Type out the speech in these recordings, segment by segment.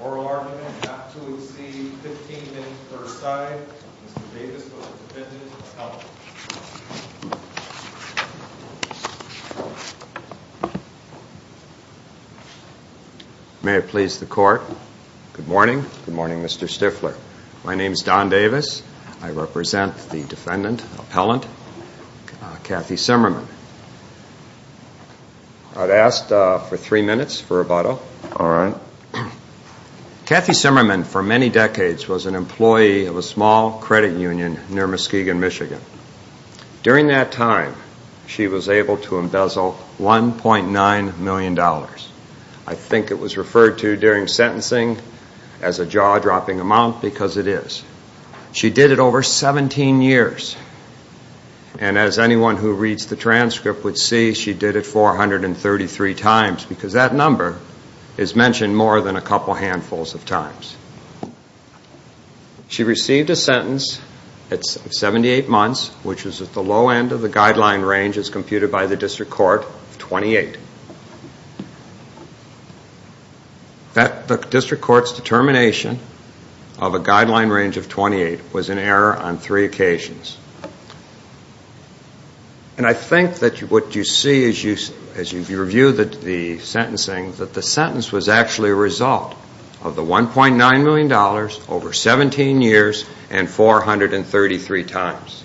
Oral argument not to exceed 15 minutes per side. Mr. Davis was a defendant of the court. May it please the court. Good morning. Good morning, Mr. Stifler. My name is Don Davis. I represent the defendant, appellant, Kathy Simmerman. I'd ask for three minutes for rebuttal. Kathy Simmerman for many decades was an employee of a small credit union near Muskegon, Michigan. During that time, she was able to embezzle $1.9 million. I think it was referred to during sentencing as a jaw-dropping amount because it is. She did it over 17 years. And as anyone who reads the transcript would see, she did it 433 times because that number is mentioned more than a couple handfuls of times. She received a sentence of 78 months which was at the low end of the guideline range as computed by the district court of 28. The district court's determination of a guideline range of 28 was an error on three occasions. And I think that what you see as you review the sentencing, that the sentence was actually a result of the $1.9 million over 17 years and 433 times.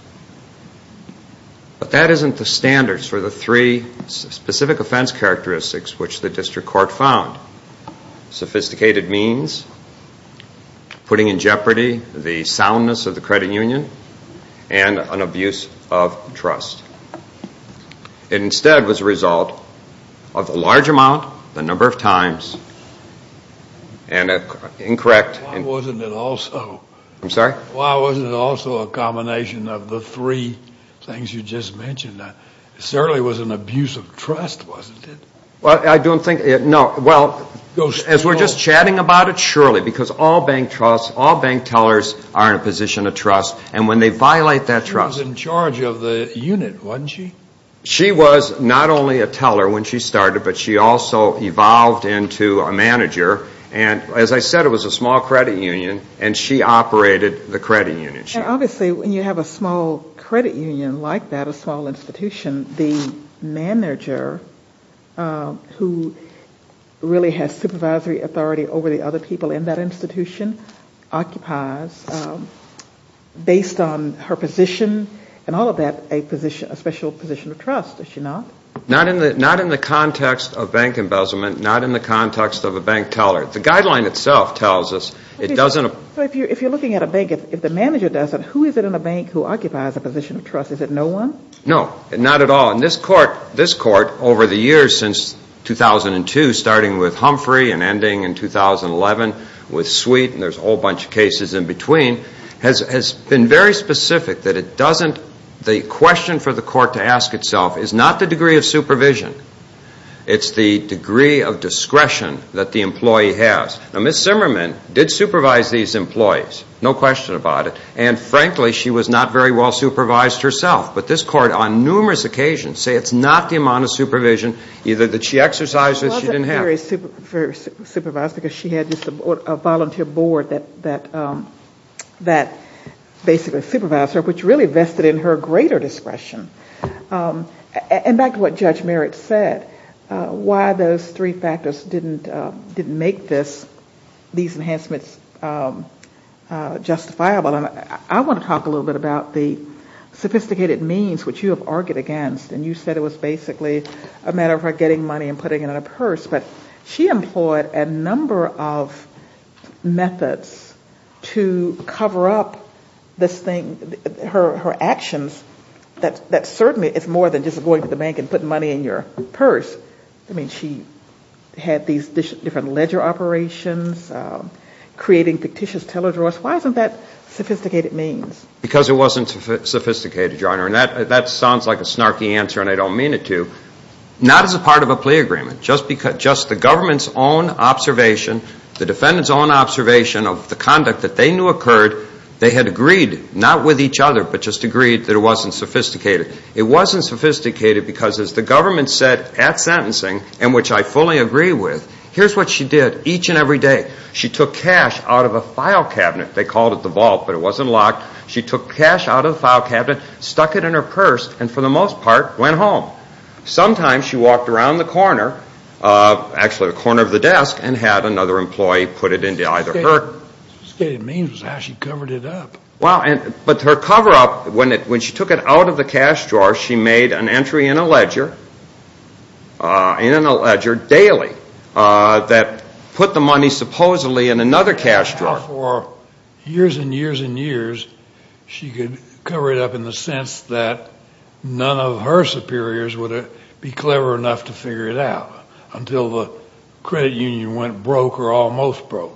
But that isn't the standards for the three specific offense characteristics which the district court found. Sophisticated means, putting in jeopardy the soundness of the credit union, and an abuse of trust. It instead was a result of a large amount, the number of times, and an incorrect... Why wasn't it also a combination of the three things you just mentioned? It certainly was an abuse of trust, wasn't it? Well, I don't think, no, well, as we're just chatting about it, surely, because all bank trusts, all bank tellers are in a position of trust. And when they violate that trust... She was in charge of the unit, wasn't she? She was not only a teller when she started, but she also evolved into a manager. And as I said, it was a small credit union, and she operated the credit union. And obviously, when you have a small credit union like that, a small institution, the manager who really has supervisory authority over the other people in that institution occupies, based on her position and all of that, a special position of trust, does she not? Not in the context of bank embezzlement, not in the context of a bank teller. The guideline itself tells us it doesn't... So if you're looking at a bank, if the manager does it, who is it in a bank who occupies a position of trust? Is it no one? No, not at all. And this court, over the years since 2002, starting with Humphrey and ending in 2011 with Sweet, and there's a whole bunch of cases in between, has been very specific that it doesn't... No question about it. And frankly, she was not very well supervised herself. But this court, on numerous occasions, say it's not the amount of supervision either that she exercised or she didn't have. She wasn't very supervised because she had just a volunteer board that basically supervised her, which really vested in her greater discretion. And back to what Judge Merritt said, why those three factors didn't make this, these enhancements, justifiable. I want to talk a little bit about the sophisticated means which you have argued against. And you said it was basically a matter of her getting money and putting it in a purse. But she employed a number of methods to cover up this thing, her actions, that certainly is more than just going to the bank and putting money in your purse. I mean, she had these different ledger operations, creating fictitious teledraws. Why isn't that sophisticated means? Because it wasn't sophisticated, Your Honor. And that sounds like a snarky answer, and I don't mean it to. Not as a part of a plea agreement. Just the government's own observation, the defendant's own observation of the conduct that they knew occurred, they had agreed, not with each other, but just agreed that it wasn't sophisticated. It wasn't sophisticated because, as the government said at sentencing, and which I fully agree with, here's what she did each and every day. She took cash out of a file cabinet. They called it the vault, but it wasn't locked. She took cash out of the file cabinet, stuck it in her purse, and for the most part, went home. Sometimes she walked around the corner, actually the corner of the desk, and had another employee put it into either her... What you're saying to me is how she covered it up. But her cover-up, when she took it out of the cash drawer, she made an entry in a ledger, in a ledger, daily, that put the money supposedly in another cash drawer. For years and years and years, she could cover it up in the sense that none of her superiors would be clever enough to figure it out, until the credit union went broke or almost broke.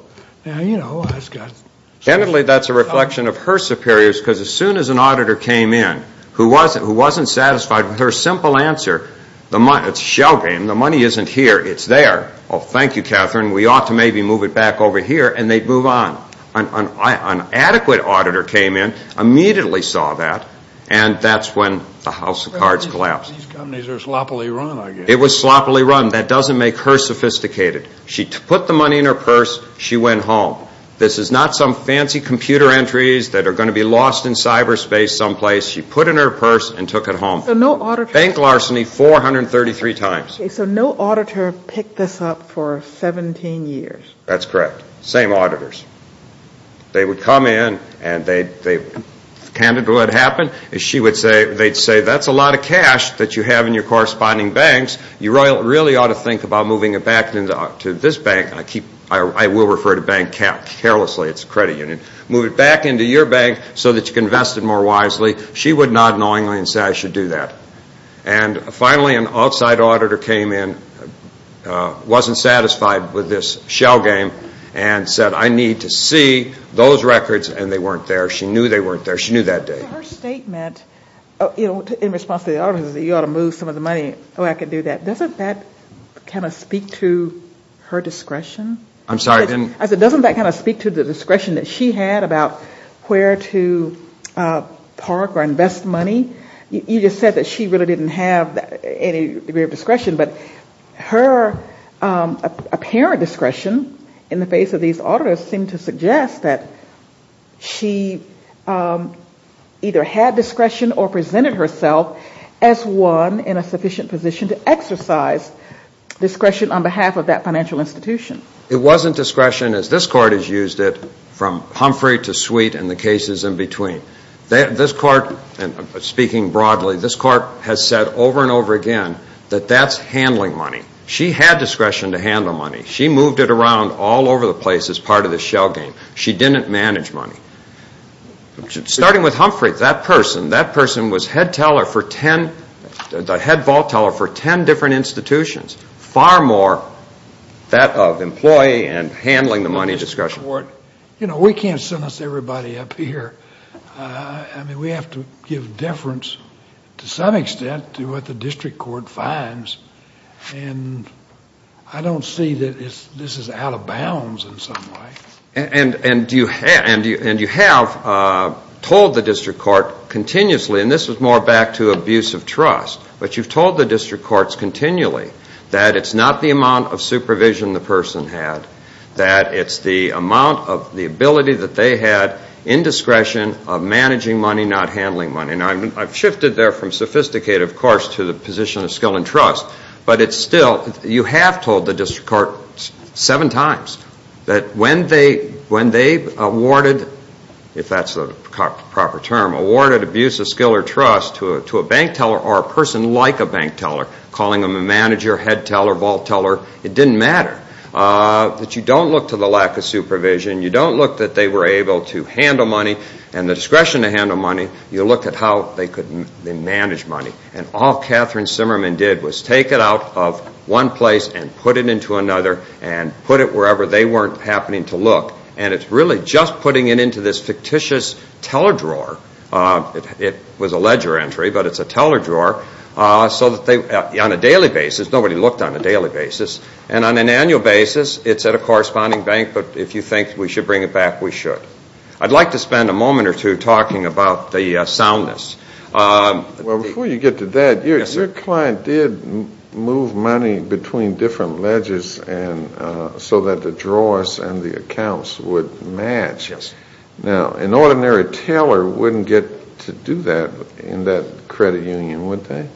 Generally, that's a reflection of her superiors, because as soon as an auditor came in who wasn't satisfied with her simple answer, it's a shell game, the money isn't here, it's there, oh, thank you, Catherine, we ought to maybe move it back over here, and they'd move on. An adequate auditor came in, immediately saw that, and that's when the house of cards collapsed. These companies are sloppily run, I guess. It was sloppily run, that doesn't make her sophisticated. She put the money in her purse, she went home. This is not some fancy computer entries that are going to be lost in cyberspace someplace. She put it in her purse and took it home. Bank larceny 433 times. So no auditor picked this up for 17 years? That's correct. Same auditors. They would come in and they'd say, that's a lot of cash that you have in your corresponding banks. You really ought to think about moving it back to this bank. I will refer to bank carelessly, it's a credit union. Move it back into your bank so that you can invest it more wisely. She would nod knowingly and say, I should do that. And finally an outside auditor came in, wasn't satisfied with this shell game, and said, I need to see those records. And they weren't there. She knew they weren't there. She knew that day. Her statement, in response to the auditor, you ought to move some of the money. Oh, I can do that. Doesn't that kind of speak to her discretion? I'm sorry, I didn't. I said, doesn't that kind of speak to the discretion that she had about where to park or invest money? You just said that she really didn't have any degree of discretion. But her apparent discretion in the face of these auditors seemed to suggest that she either had discretion or presented herself as one in a sufficient position to exercise discretion on behalf of that financial institution. It wasn't discretion as this Court has used it from Humphrey to Sweet and the cases in between. This Court, speaking broadly, this Court has said over and over again that that's handling money. She had discretion to handle money. She moved it around all over the place as part of the shell game. She didn't manage money. Starting with Humphrey, that person, that person was head teller for ten, the head vault teller for ten different institutions. Far more that of employee and handling the money discretion. You know, we can't sentence everybody up here. I mean, we have to give deference to some extent to what the district court finds. And I don't see that this is out of bounds in some way. And you have told the district court continuously, and this is more back to abuse of trust, but you've told the district courts continually that it's not the amount of supervision the person had, that it's the amount of the ability that they had in discretion of managing money, not handling money. Now, I've shifted there from sophisticated, of course, to the position of skill and trust. But it's still, you have told the district court seven times that when they awarded, if that's the proper term, awarded abuse of skill or trust to a bank teller or a person like a bank teller, calling them a manager, head teller, vault teller, it didn't matter. But you don't look to the lack of supervision. You don't look that they were able to handle money and the discretion to handle money. You look at how they could manage money. And all Catherine Simmerman did was take it out of one place and put it into another and put it wherever they weren't happening to look. And it's really just putting it into this fictitious teller drawer. It was a ledger entry, but it's a teller drawer. So that they, on a daily basis, nobody looked on a daily basis. And on an annual basis, it's at a corresponding bank. But if you think we should bring it back, we should. I'd like to spend a moment or two talking about the soundness. Well, before you get to that, your client did move money between different ledges so that the drawers and the accounts would match. Yes. Now, an ordinary teller wouldn't get to do that in that credit union, would they?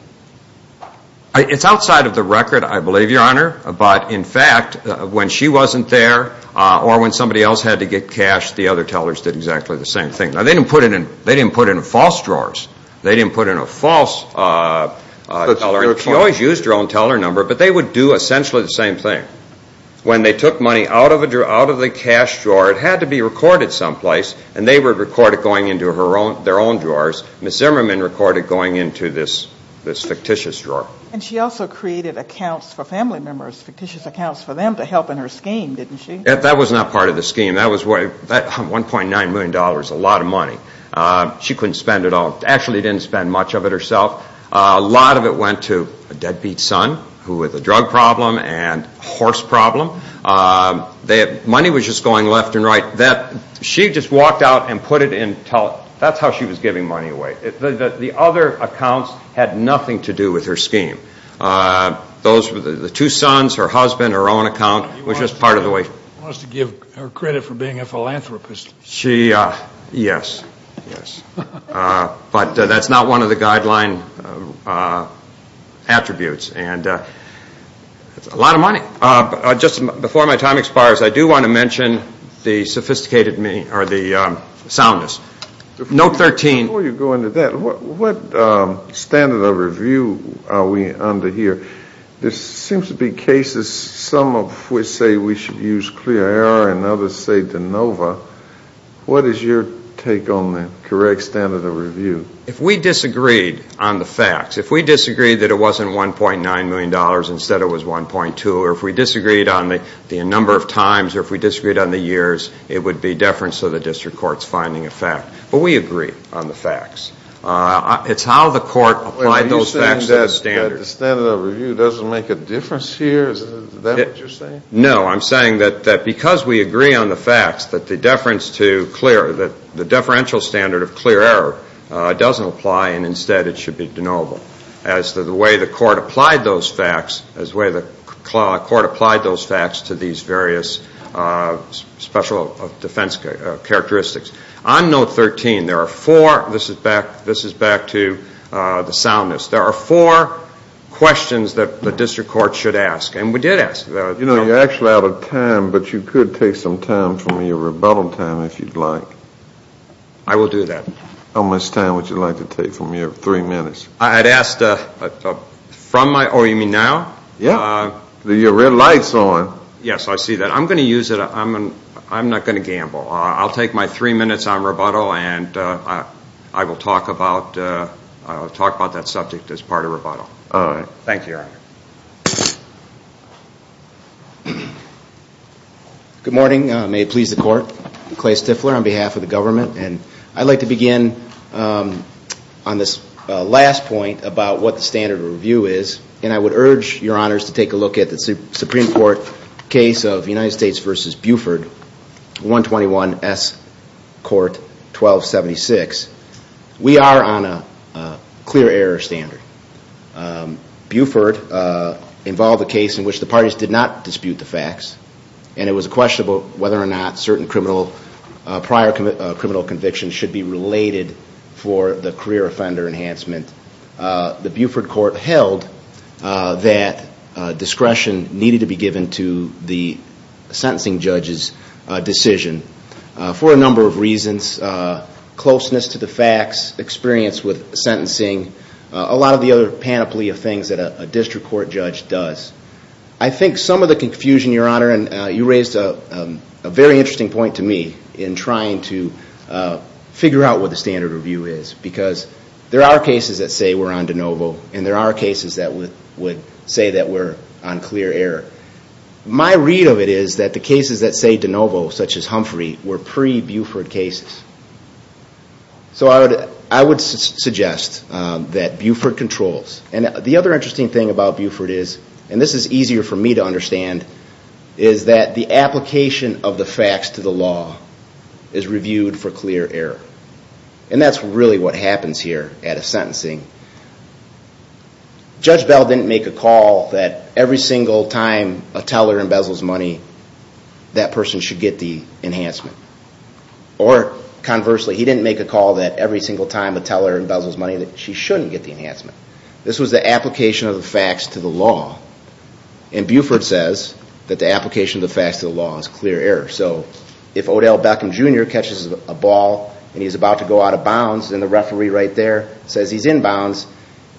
It's outside of the record, I believe, Your Honor. But, in fact, when she wasn't there or when somebody else had to get cash, the other tellers did exactly the same thing. Now, they didn't put it in false drawers. They didn't put it in a false teller. She always used her own teller number, but they would do essentially the same thing. When they took money out of the cash drawer, it had to be recorded someplace, and they would record it going into their own drawers. Ms. Zimmerman recorded going into this fictitious drawer. And she also created accounts for family members, fictitious accounts for them to help in her scheme, didn't she? That was not part of the scheme. That was worth $1.9 million, a lot of money. She couldn't spend it all. Actually, she didn't spend much of it herself. A lot of it went to a deadbeat son who had a drug problem and a horse problem. Money was just going left and right. She just walked out and put it in teller. That's how she was giving money away. The other accounts had nothing to do with her scheme. The two sons, her husband, her own account was just part of the way. She wants to give her credit for being a philanthropist. Yes, yes. But that's not one of the guideline attributes. And it's a lot of money. Just before my time expires, I do want to mention the soundness. Note 13. Before you go into that, what standard of review are we under here? There seems to be cases, some of which say we should use clear error and others say de novo. What is your take on the correct standard of review? If we disagreed on the facts, if we disagreed that it wasn't $1.9 million, instead it was 1.2, or if we disagreed on the number of times or if we disagreed on the years, it would be deference to the district court's finding of fact. But we agree on the facts. It's how the court applied those facts to the standards. Are you saying that the standard of review doesn't make a difference here? Is that what you're saying? No, I'm saying that because we agree on the facts, that the deference to clear, that the deferential standard of clear error doesn't apply and instead it should be de novo as to the way the court applied those facts, as the way the court applied those facts to these various special defense characteristics. On Note 13, there are four. This is back to the soundness. There are four questions that the district court should ask, and we did ask. You know, you're actually out of time, but you could take some time from your rebuttal time if you'd like. I will do that. How much time would you like to take from your three minutes? I'd ask from my, oh, you mean now? Yeah. With your red lights on. Yes, I see that. I'm going to use it. I'm not going to gamble. I'll take my three minutes on rebuttal, and I will talk about that subject as part of rebuttal. All right. Thank you, Your Honor. Good morning. May it please the court. Clay Stifler on behalf of the government. And I'd like to begin on this last point about what the standard of review is, and I would urge Your Honors to take a look at the Supreme Court case of United States v. Buford, 121S Court 1276. We are on a clear error standard. Buford involved a case in which the parties did not dispute the facts, and it was a question about whether or not certain prior criminal convictions should be related for the career offender enhancement. The Buford court held that discretion needed to be given to the sentencing judge's decision for a number of reasons, closeness to the facts, experience with sentencing, a lot of the other panoply of things that a district court judge does. I think some of the confusion, Your Honor, and you raised a very interesting point to me in trying to figure out what the standard of review is, because there are cases that say we're on de novo, and there are cases that would say that we're on clear error. My read of it is that the cases that say de novo, such as Humphrey, were pre-Buford cases. So I would suggest that Buford controls. The other interesting thing about Buford is, and this is easier for me to understand, is that the application of the facts to the law is reviewed for clear error. And that's really what happens here at a sentencing. Judge Bell didn't make a call that every single time a teller embezzles money, that person should get the enhancement. Or conversely, he didn't make a call that every single time a teller embezzles money, that she shouldn't get the enhancement. This was the application of the facts to the law. And Buford says that the application of the facts to the law is clear error. So if Odell Beckham Jr. catches a ball and he's about to go out of bounds, then the referee right there says he's in bounds,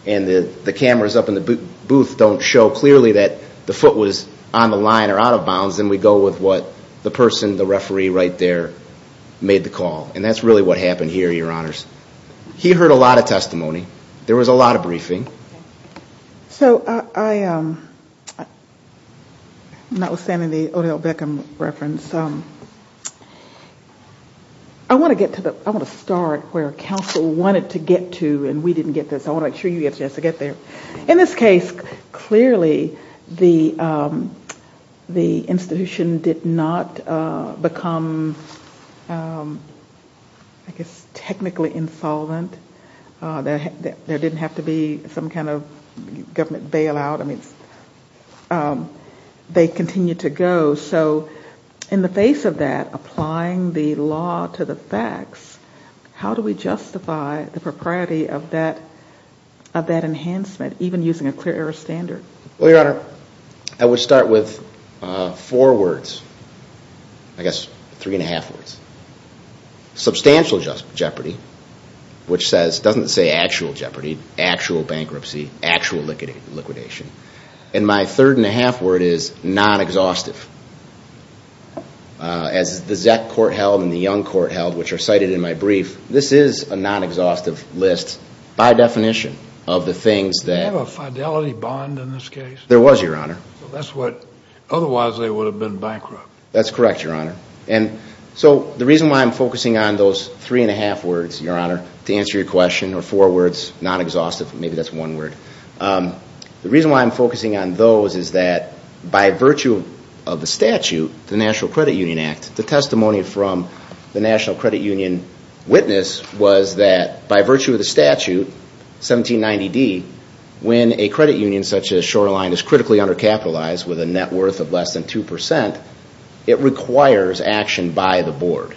and the cameras up in the booth don't show clearly that the foot was on the line or out of bounds, then we go with what the person, the referee right there, made the call. And that's really what happened here, Your Honors. He heard a lot of testimony. There was a lot of briefing. So I'm notwithstanding the Odell Beckham reference, I want to get to the start where counsel wanted to get to and we didn't get there, so I want to make sure you get there. In this case, clearly the institution did not become, I guess, technically insolvent. There didn't have to be some kind of government bailout. I mean, they continued to go. So in the face of that, applying the law to the facts, how do we justify the propriety of that enhancement, even using a clear error standard? Well, Your Honor, I would start with four words, I guess three and a half words. Substantial jeopardy, which doesn't say actual jeopardy, actual bankruptcy, actual liquidation. And my third and a half word is non-exhaustive. As the Zeck court held and the Young court held, which are cited in my brief, this is a non-exhaustive list by definition of the things that... Did they have a fidelity bond in this case? There was, Your Honor. Otherwise they would have been bankrupt. That's correct, Your Honor. And so the reason why I'm focusing on those three and a half words, Your Honor, to answer your question, or four words, non-exhaustive, maybe that's one word. The reason why I'm focusing on those is that by virtue of the statute, the National Credit Union Act, the testimony from the National Credit Union witness was that by virtue of the statute, 1790D, when a credit union such as Shoreline is critically undercapitalized with a net worth of less than 2%, it requires action by the board.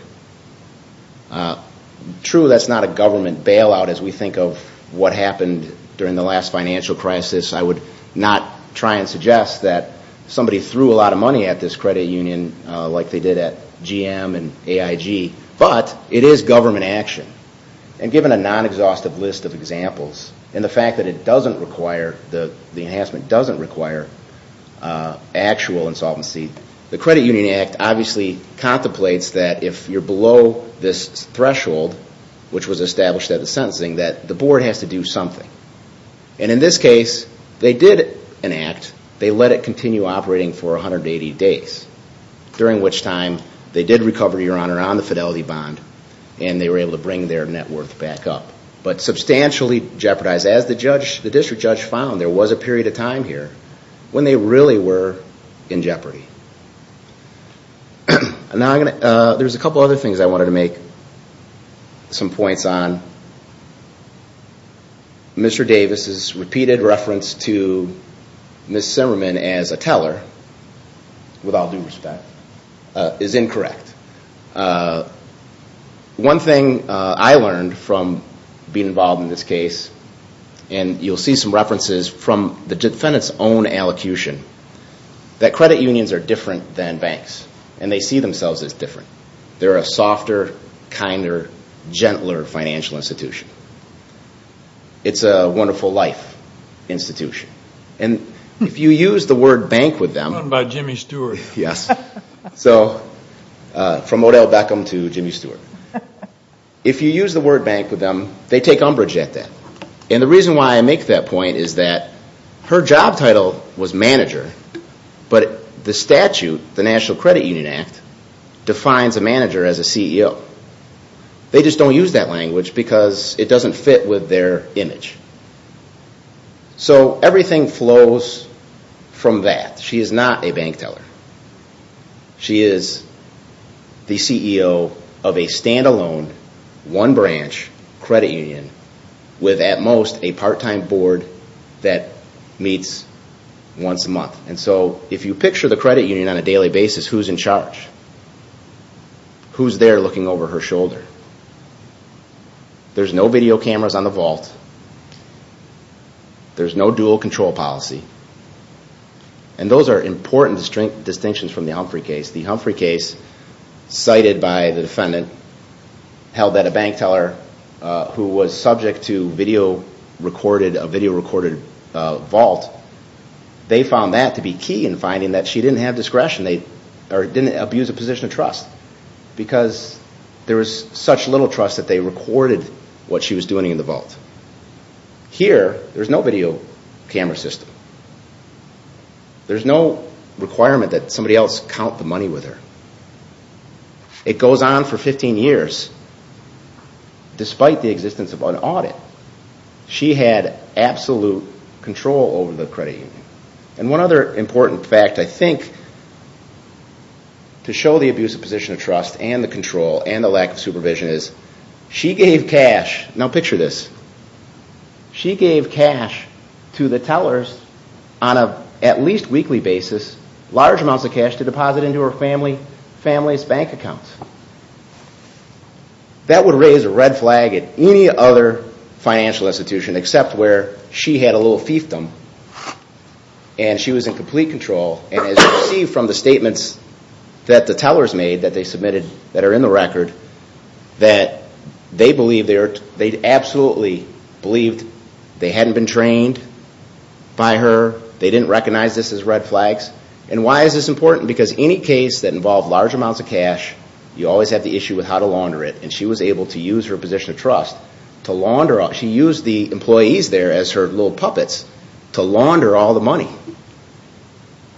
True, that's not a government bailout as we think of what happened during the last financial crisis. I would not try and suggest that somebody threw a lot of money at this credit union like they did at GM and AIG, but it is government action. And given a non-exhaustive list of examples, and the fact that it doesn't require, the enhancement doesn't require actual insolvency, the Credit Union Act obviously contemplates that if you're below this threshold, which was established at the sentencing, that the board has to do something. And in this case, they did enact. They let it continue operating for 180 days, during which time they did recover, Your Honor, on the fidelity bond, and they were able to bring their net worth back up, but substantially jeopardized. As the district judge found, there was a period of time here when they really were in jeopardy. Now, there's a couple other things I wanted to make. Some points on Mr. Davis' repeated reference to Ms. Zimmerman as a teller, with all due respect, is incorrect. One thing I learned from being involved in this case, and you'll see some references from the defendant's own allocution, that credit unions are different than banks, and they see themselves as different. They're a softer, kinder, gentler financial institution. It's a wonderful life institution. And if you use the word bank with them... From Odell Beckham to Jimmy Stewart. If you use the word bank with them, they take umbrage at that. And the reason why I make that point is that her job title was manager, but the statute, the National Credit Union Act, defines a manager as a CEO. They just don't use that language because it doesn't fit with their image. So everything flows from that. She is not a bank teller. She is the CEO of a stand-alone, one-branch credit union with, at most, a part-time board that meets once a month. And so if you picture the credit union on a daily basis, who's in charge? Who's there looking over her shoulder? There's no video cameras on the vault. There's no dual-control policy. And those are important distinctions from the Humphrey case. The Humphrey case, cited by the defendant, held that a bank teller who was subject to a video-recorded vault, they found that to be key in finding that she didn't have discretion. They didn't abuse a position of trust because there was such little trust that they recorded what she was doing in the vault. Here, there's no video camera system. There's no requirement that somebody else count the money with her. It goes on for 15 years, despite the existence of an audit. She had absolute control over the credit union. And one other important fact, I think, to show the abusive position of trust and the control and the lack of supervision is she gave cash. Now picture this. She gave cash to the tellers on a, at least weekly basis, large amounts of cash to deposit into her family's bank accounts. That would raise a red flag at any other financial institution except where she had a little fiefdom and she was in complete control. And as you see from the statements that the tellers made that they submitted that are in the record, that they believe, they absolutely believed they hadn't been trained by her, they didn't recognize this as red flags. And why is this important? Because any case that involved large amounts of cash, you always have the issue with how to launder it. And she was able to use her position of trust to launder, she used the employees there as her little puppets to launder all the money.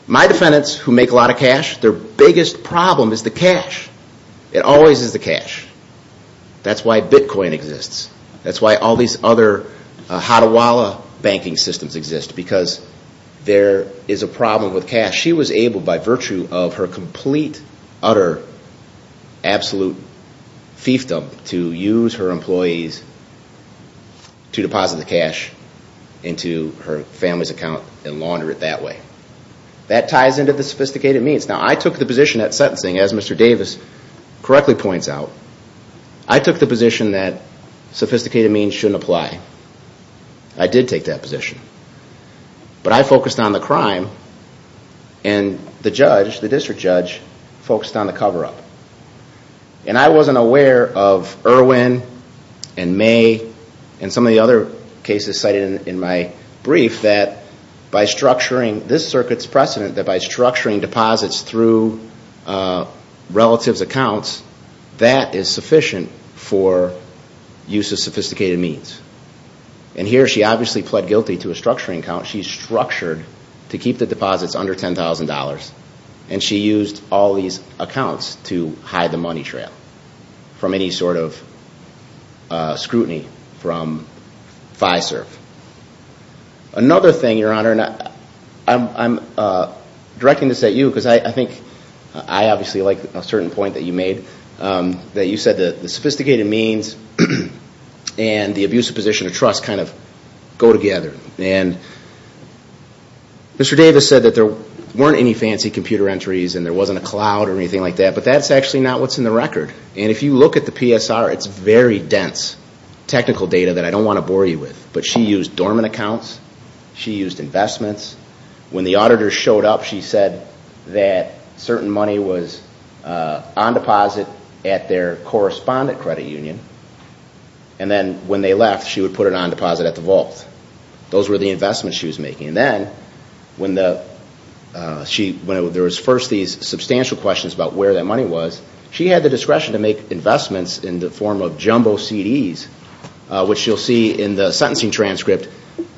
My defendants who make a lot of cash, their biggest problem is the cash. It always is the cash. That's why Bitcoin exists. That's why all these other Hadawala banking systems exist. Because there is a problem with cash. She was able by virtue of her complete, utter, absolute fiefdom to use her employees to deposit the cash into her family's account and launder it that way. That ties into the sophisticated means. Now I took the position at sentencing, as Mr. Davis correctly points out, I took the position that sophisticated means shouldn't apply. I did take that position. But I focused on the crime and the judge, the district judge, focused on the cover-up. And I wasn't aware of Irwin and May and some of the other cases cited in my brief that by structuring this circuit's precedent, that by structuring deposits through relatives' accounts, that is sufficient for use of sophisticated means. And here she obviously pled guilty to a structuring account. She structured to keep the deposits under $10,000. And she used all these accounts to hide the money trail from any sort of scrutiny from FISERF. Another thing, Your Honor, and I'm directing this at you because I think I obviously like a certain point that you made, that you said that the sophisticated means and the abusive position of trust kind of go together. And Mr. Davis said that there weren't any fancy computer entries and there wasn't a cloud or anything like that, but that's actually not what's in the record. And if you look at the PSR, it's very dense technical data that I don't want to bore you with. But she used dormant accounts. She used investments. When the auditor showed up, she said that certain money was on deposit at their correspondent credit union. And then when they left, she would put it on deposit at the vault. Those were the investments she was making. And then when there was first these substantial questions about where that money was, she had the discretion to make investments in the form of jumbo CDs, which you'll see in the sentencing transcript.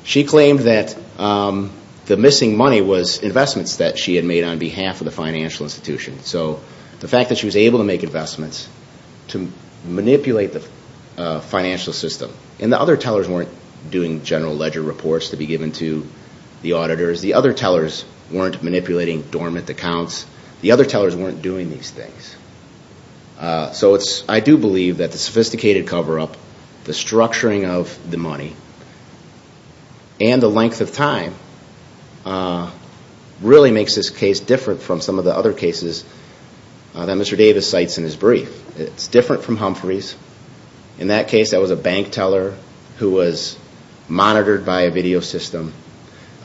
She claimed that the missing money was investments that she had made on behalf of the financial institution. So the fact that she was able to make investments to manipulate the financial system. And the other tellers weren't doing general ledger reports to be given to the auditors. The other tellers weren't manipulating dormant accounts. The other tellers weren't doing these things. So I do believe that the sophisticated cover-up, the structuring of the money, and the length of time really makes this case different from some of the other cases that Mr. Davis cites in his brief. It's different from Humphrey's. In that case, that was a bank teller who was monitored by a video system.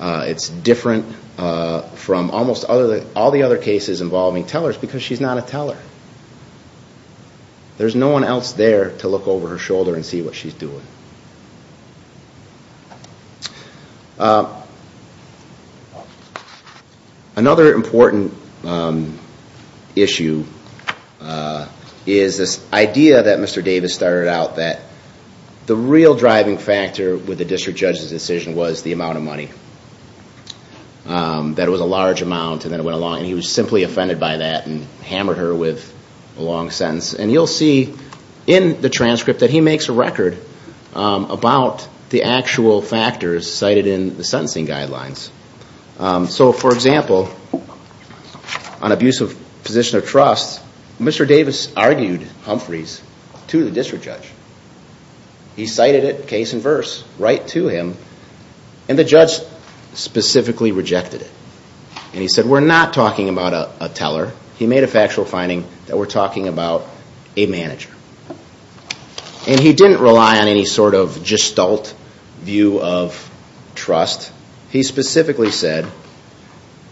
It's different from almost all the other cases involving tellers because she's not a teller. There's no one else there to look over her shoulder and see what she's doing. Another important issue is this idea that Mr. Davis started out that the real driving factor with the district judge's decision was the amount of money. That it was a large amount and then it went along and he was simply offended by that and hammered her with a long sentence. And you'll see in the transcript that he makes a record about the actual factors cited in the sentencing guidelines. So, for example, on abuse of position of trust, Mr. Davis argued Humphrey's to the district judge. He cited it, case in verse, right to him. And the judge specifically rejected it. And he said, we're not talking about a teller. He made a factual finding that we're talking about a manager. And he didn't rely on any sort of gestalt view of trust. He specifically said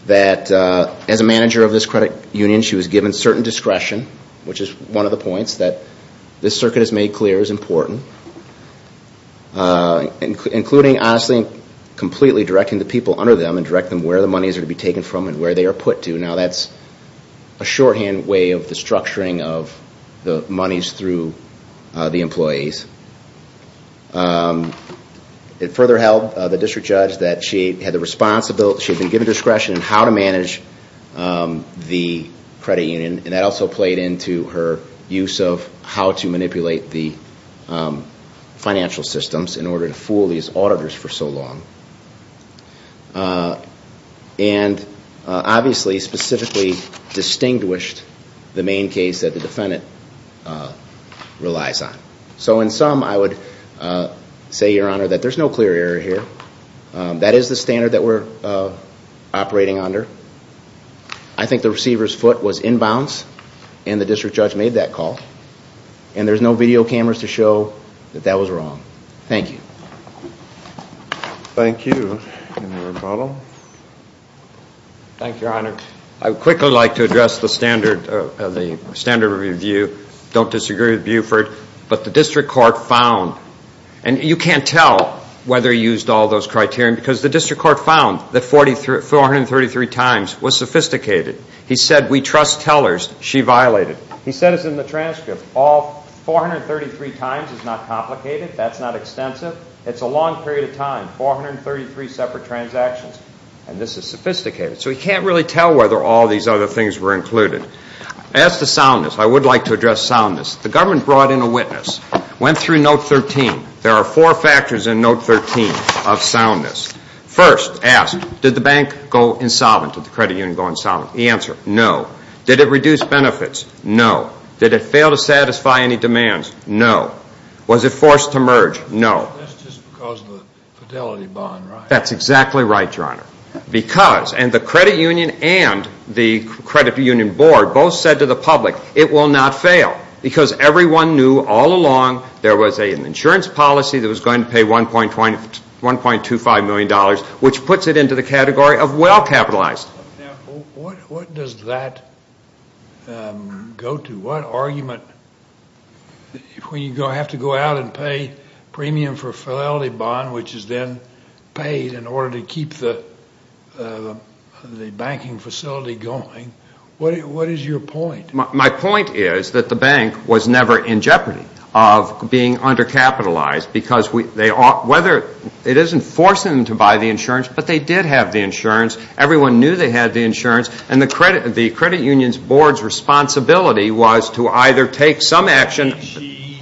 that as a manager of this credit union, she was given certain discretion, which is one of the points that this circuit has made clear is important. Including, honestly, completely directing the people under them and directing them where the monies are to be taken from and where they are put to. Now that's a shorthand way of the structuring of the monies through the employees. It further held the district judge that she had the responsibility, she had been given discretion in how to manage the credit union. And that also played into her use of how to manipulate the financial systems in order to fool these auditors for so long. And obviously specifically distinguished the main case that the defendant relies on. So in sum, I would say, Your Honor, that there's no clear error here. That is the standard that we're operating under. I think the receiver's foot was inbounds and the district judge made that call. And there's no video cameras to show that that was wrong. Thank you. Thank you. Any rebuttal? Thank you, Your Honor. I would quickly like to address the standard review. Don't disagree with Buford. But the district court found, and you can't tell whether he used all those criteria, because the district court found that 433 times was sophisticated. He said, We trust tellers. She violated. He said it's in the transcript. All 433 times is not complicated. That's not extensive. It's a long period of time, 433 separate transactions. And this is sophisticated. So we can't really tell whether all these other things were included. As to soundness, I would like to address soundness. The government brought in a witness, went through Note 13. There are four factors in Note 13 of soundness. First, asked, Did the bank go insolvent? Did the credit union go insolvent? The answer, No. Did it reduce benefits? No. Did it fail to satisfy any demands? No. Was it forced to merge? No. That's just because of the fidelity bond, right? That's exactly right, Your Honor. Because, and the credit union and the credit union board both said to the public, It will not fail. Why? Because everyone knew all along there was an insurance policy that was going to pay $1.25 million, which puts it into the category of well capitalized. Now, what does that go to? What argument, when you have to go out and pay premium for a fidelity bond, which is then paid in order to keep the banking facility going, what is your point? My point is that the bank was never in jeopardy of being undercapitalized because whether it isn't forcing them to buy the insurance, but they did have the insurance. Everyone knew they had the insurance, and the credit union's board's responsibility was to either take some action. She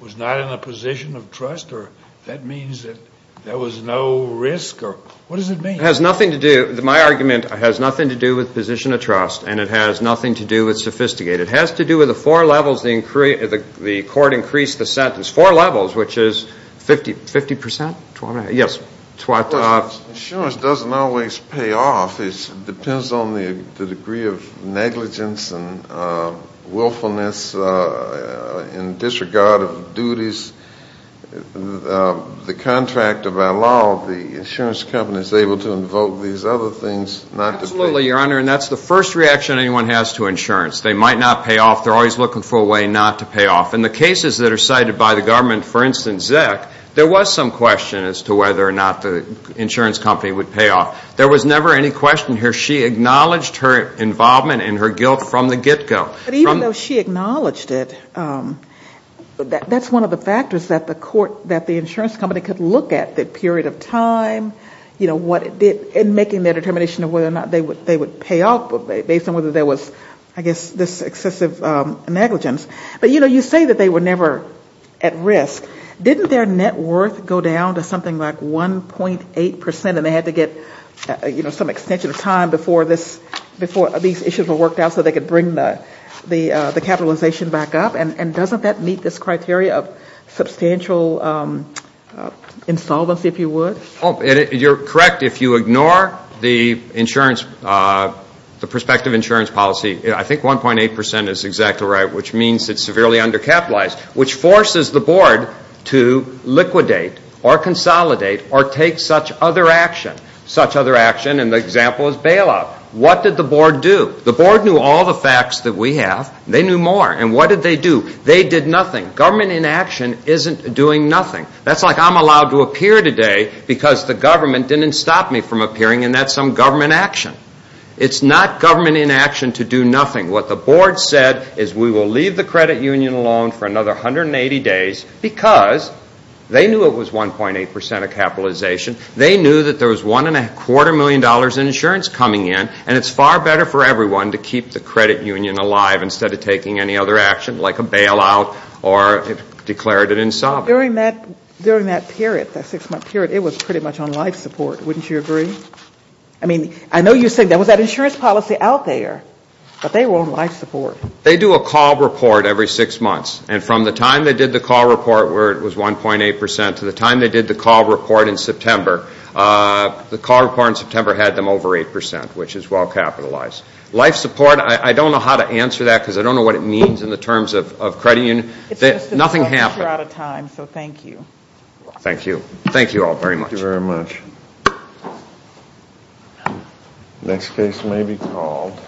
was not in a position of trust, or that means that there was no risk, or what does it mean? It has nothing to do, my argument has nothing to do with position of trust, and it has nothing to do with sophisticated. It has to do with the four levels the court increased the sentence. Four levels, which is 50%? Yes. Insurance doesn't always pay off. It depends on the degree of negligence and willfulness in disregard of duties. The contract of our law, the insurance company is able to invoke these other things. Absolutely, Your Honor, and that's the first reaction anyone has to insurance. They might not pay off. They're always looking for a way not to pay off. In the cases that are cited by the government, for instance, Zeck, there was some question as to whether or not the insurance company would pay off. There was never any question here. She acknowledged her involvement and her guilt from the get-go. But even though she acknowledged it, that's one of the factors that the insurance company could look at, the period of time, you know, what it did, and making the determination of whether or not they would pay off based on whether there was, I guess, this excessive negligence. But, you know, you say that they were never at risk. Didn't their net worth go down to something like 1.8% and they had to get some extension of time before these issues were worked out so they could bring the capitalization back up? And doesn't that meet this criteria of substantial insolvency, if you would? You're correct. If you ignore the perspective insurance policy, I think 1.8% is exactly right, which means it's severely undercapitalized, which forces the board to liquidate or consolidate or take such other action. Such other action, and the example is bailout. What did the board do? The board knew all the facts that we have. They knew more. And what did they do? They did nothing. Government inaction isn't doing nothing. That's like I'm allowed to appear today because the government didn't stop me from appearing, and that's some government action. It's not government inaction to do nothing. What the board said is we will leave the credit union alone for another 180 days because they knew it was 1.8% of capitalization. They knew that there was $1.25 million in insurance coming in, and it's far better for everyone to keep the credit union alive instead of taking any other action, like a bailout or declared it insolvent. During that period, that six-month period, it was pretty much on life support. Wouldn't you agree? I mean, I know you say there was that insurance policy out there, but they were on life support. They do a call report every six months, and from the time they did the call report where it was 1.8% to the time they did the call report in September, the call report in September had them over 8%, which is well capitalized. Life support, I don't know how to answer that because I don't know what it means in the terms of credit union. Nothing happened. You're out of time, so thank you. Thank you. Thank you all very much. Thank you very much. Next case may be called.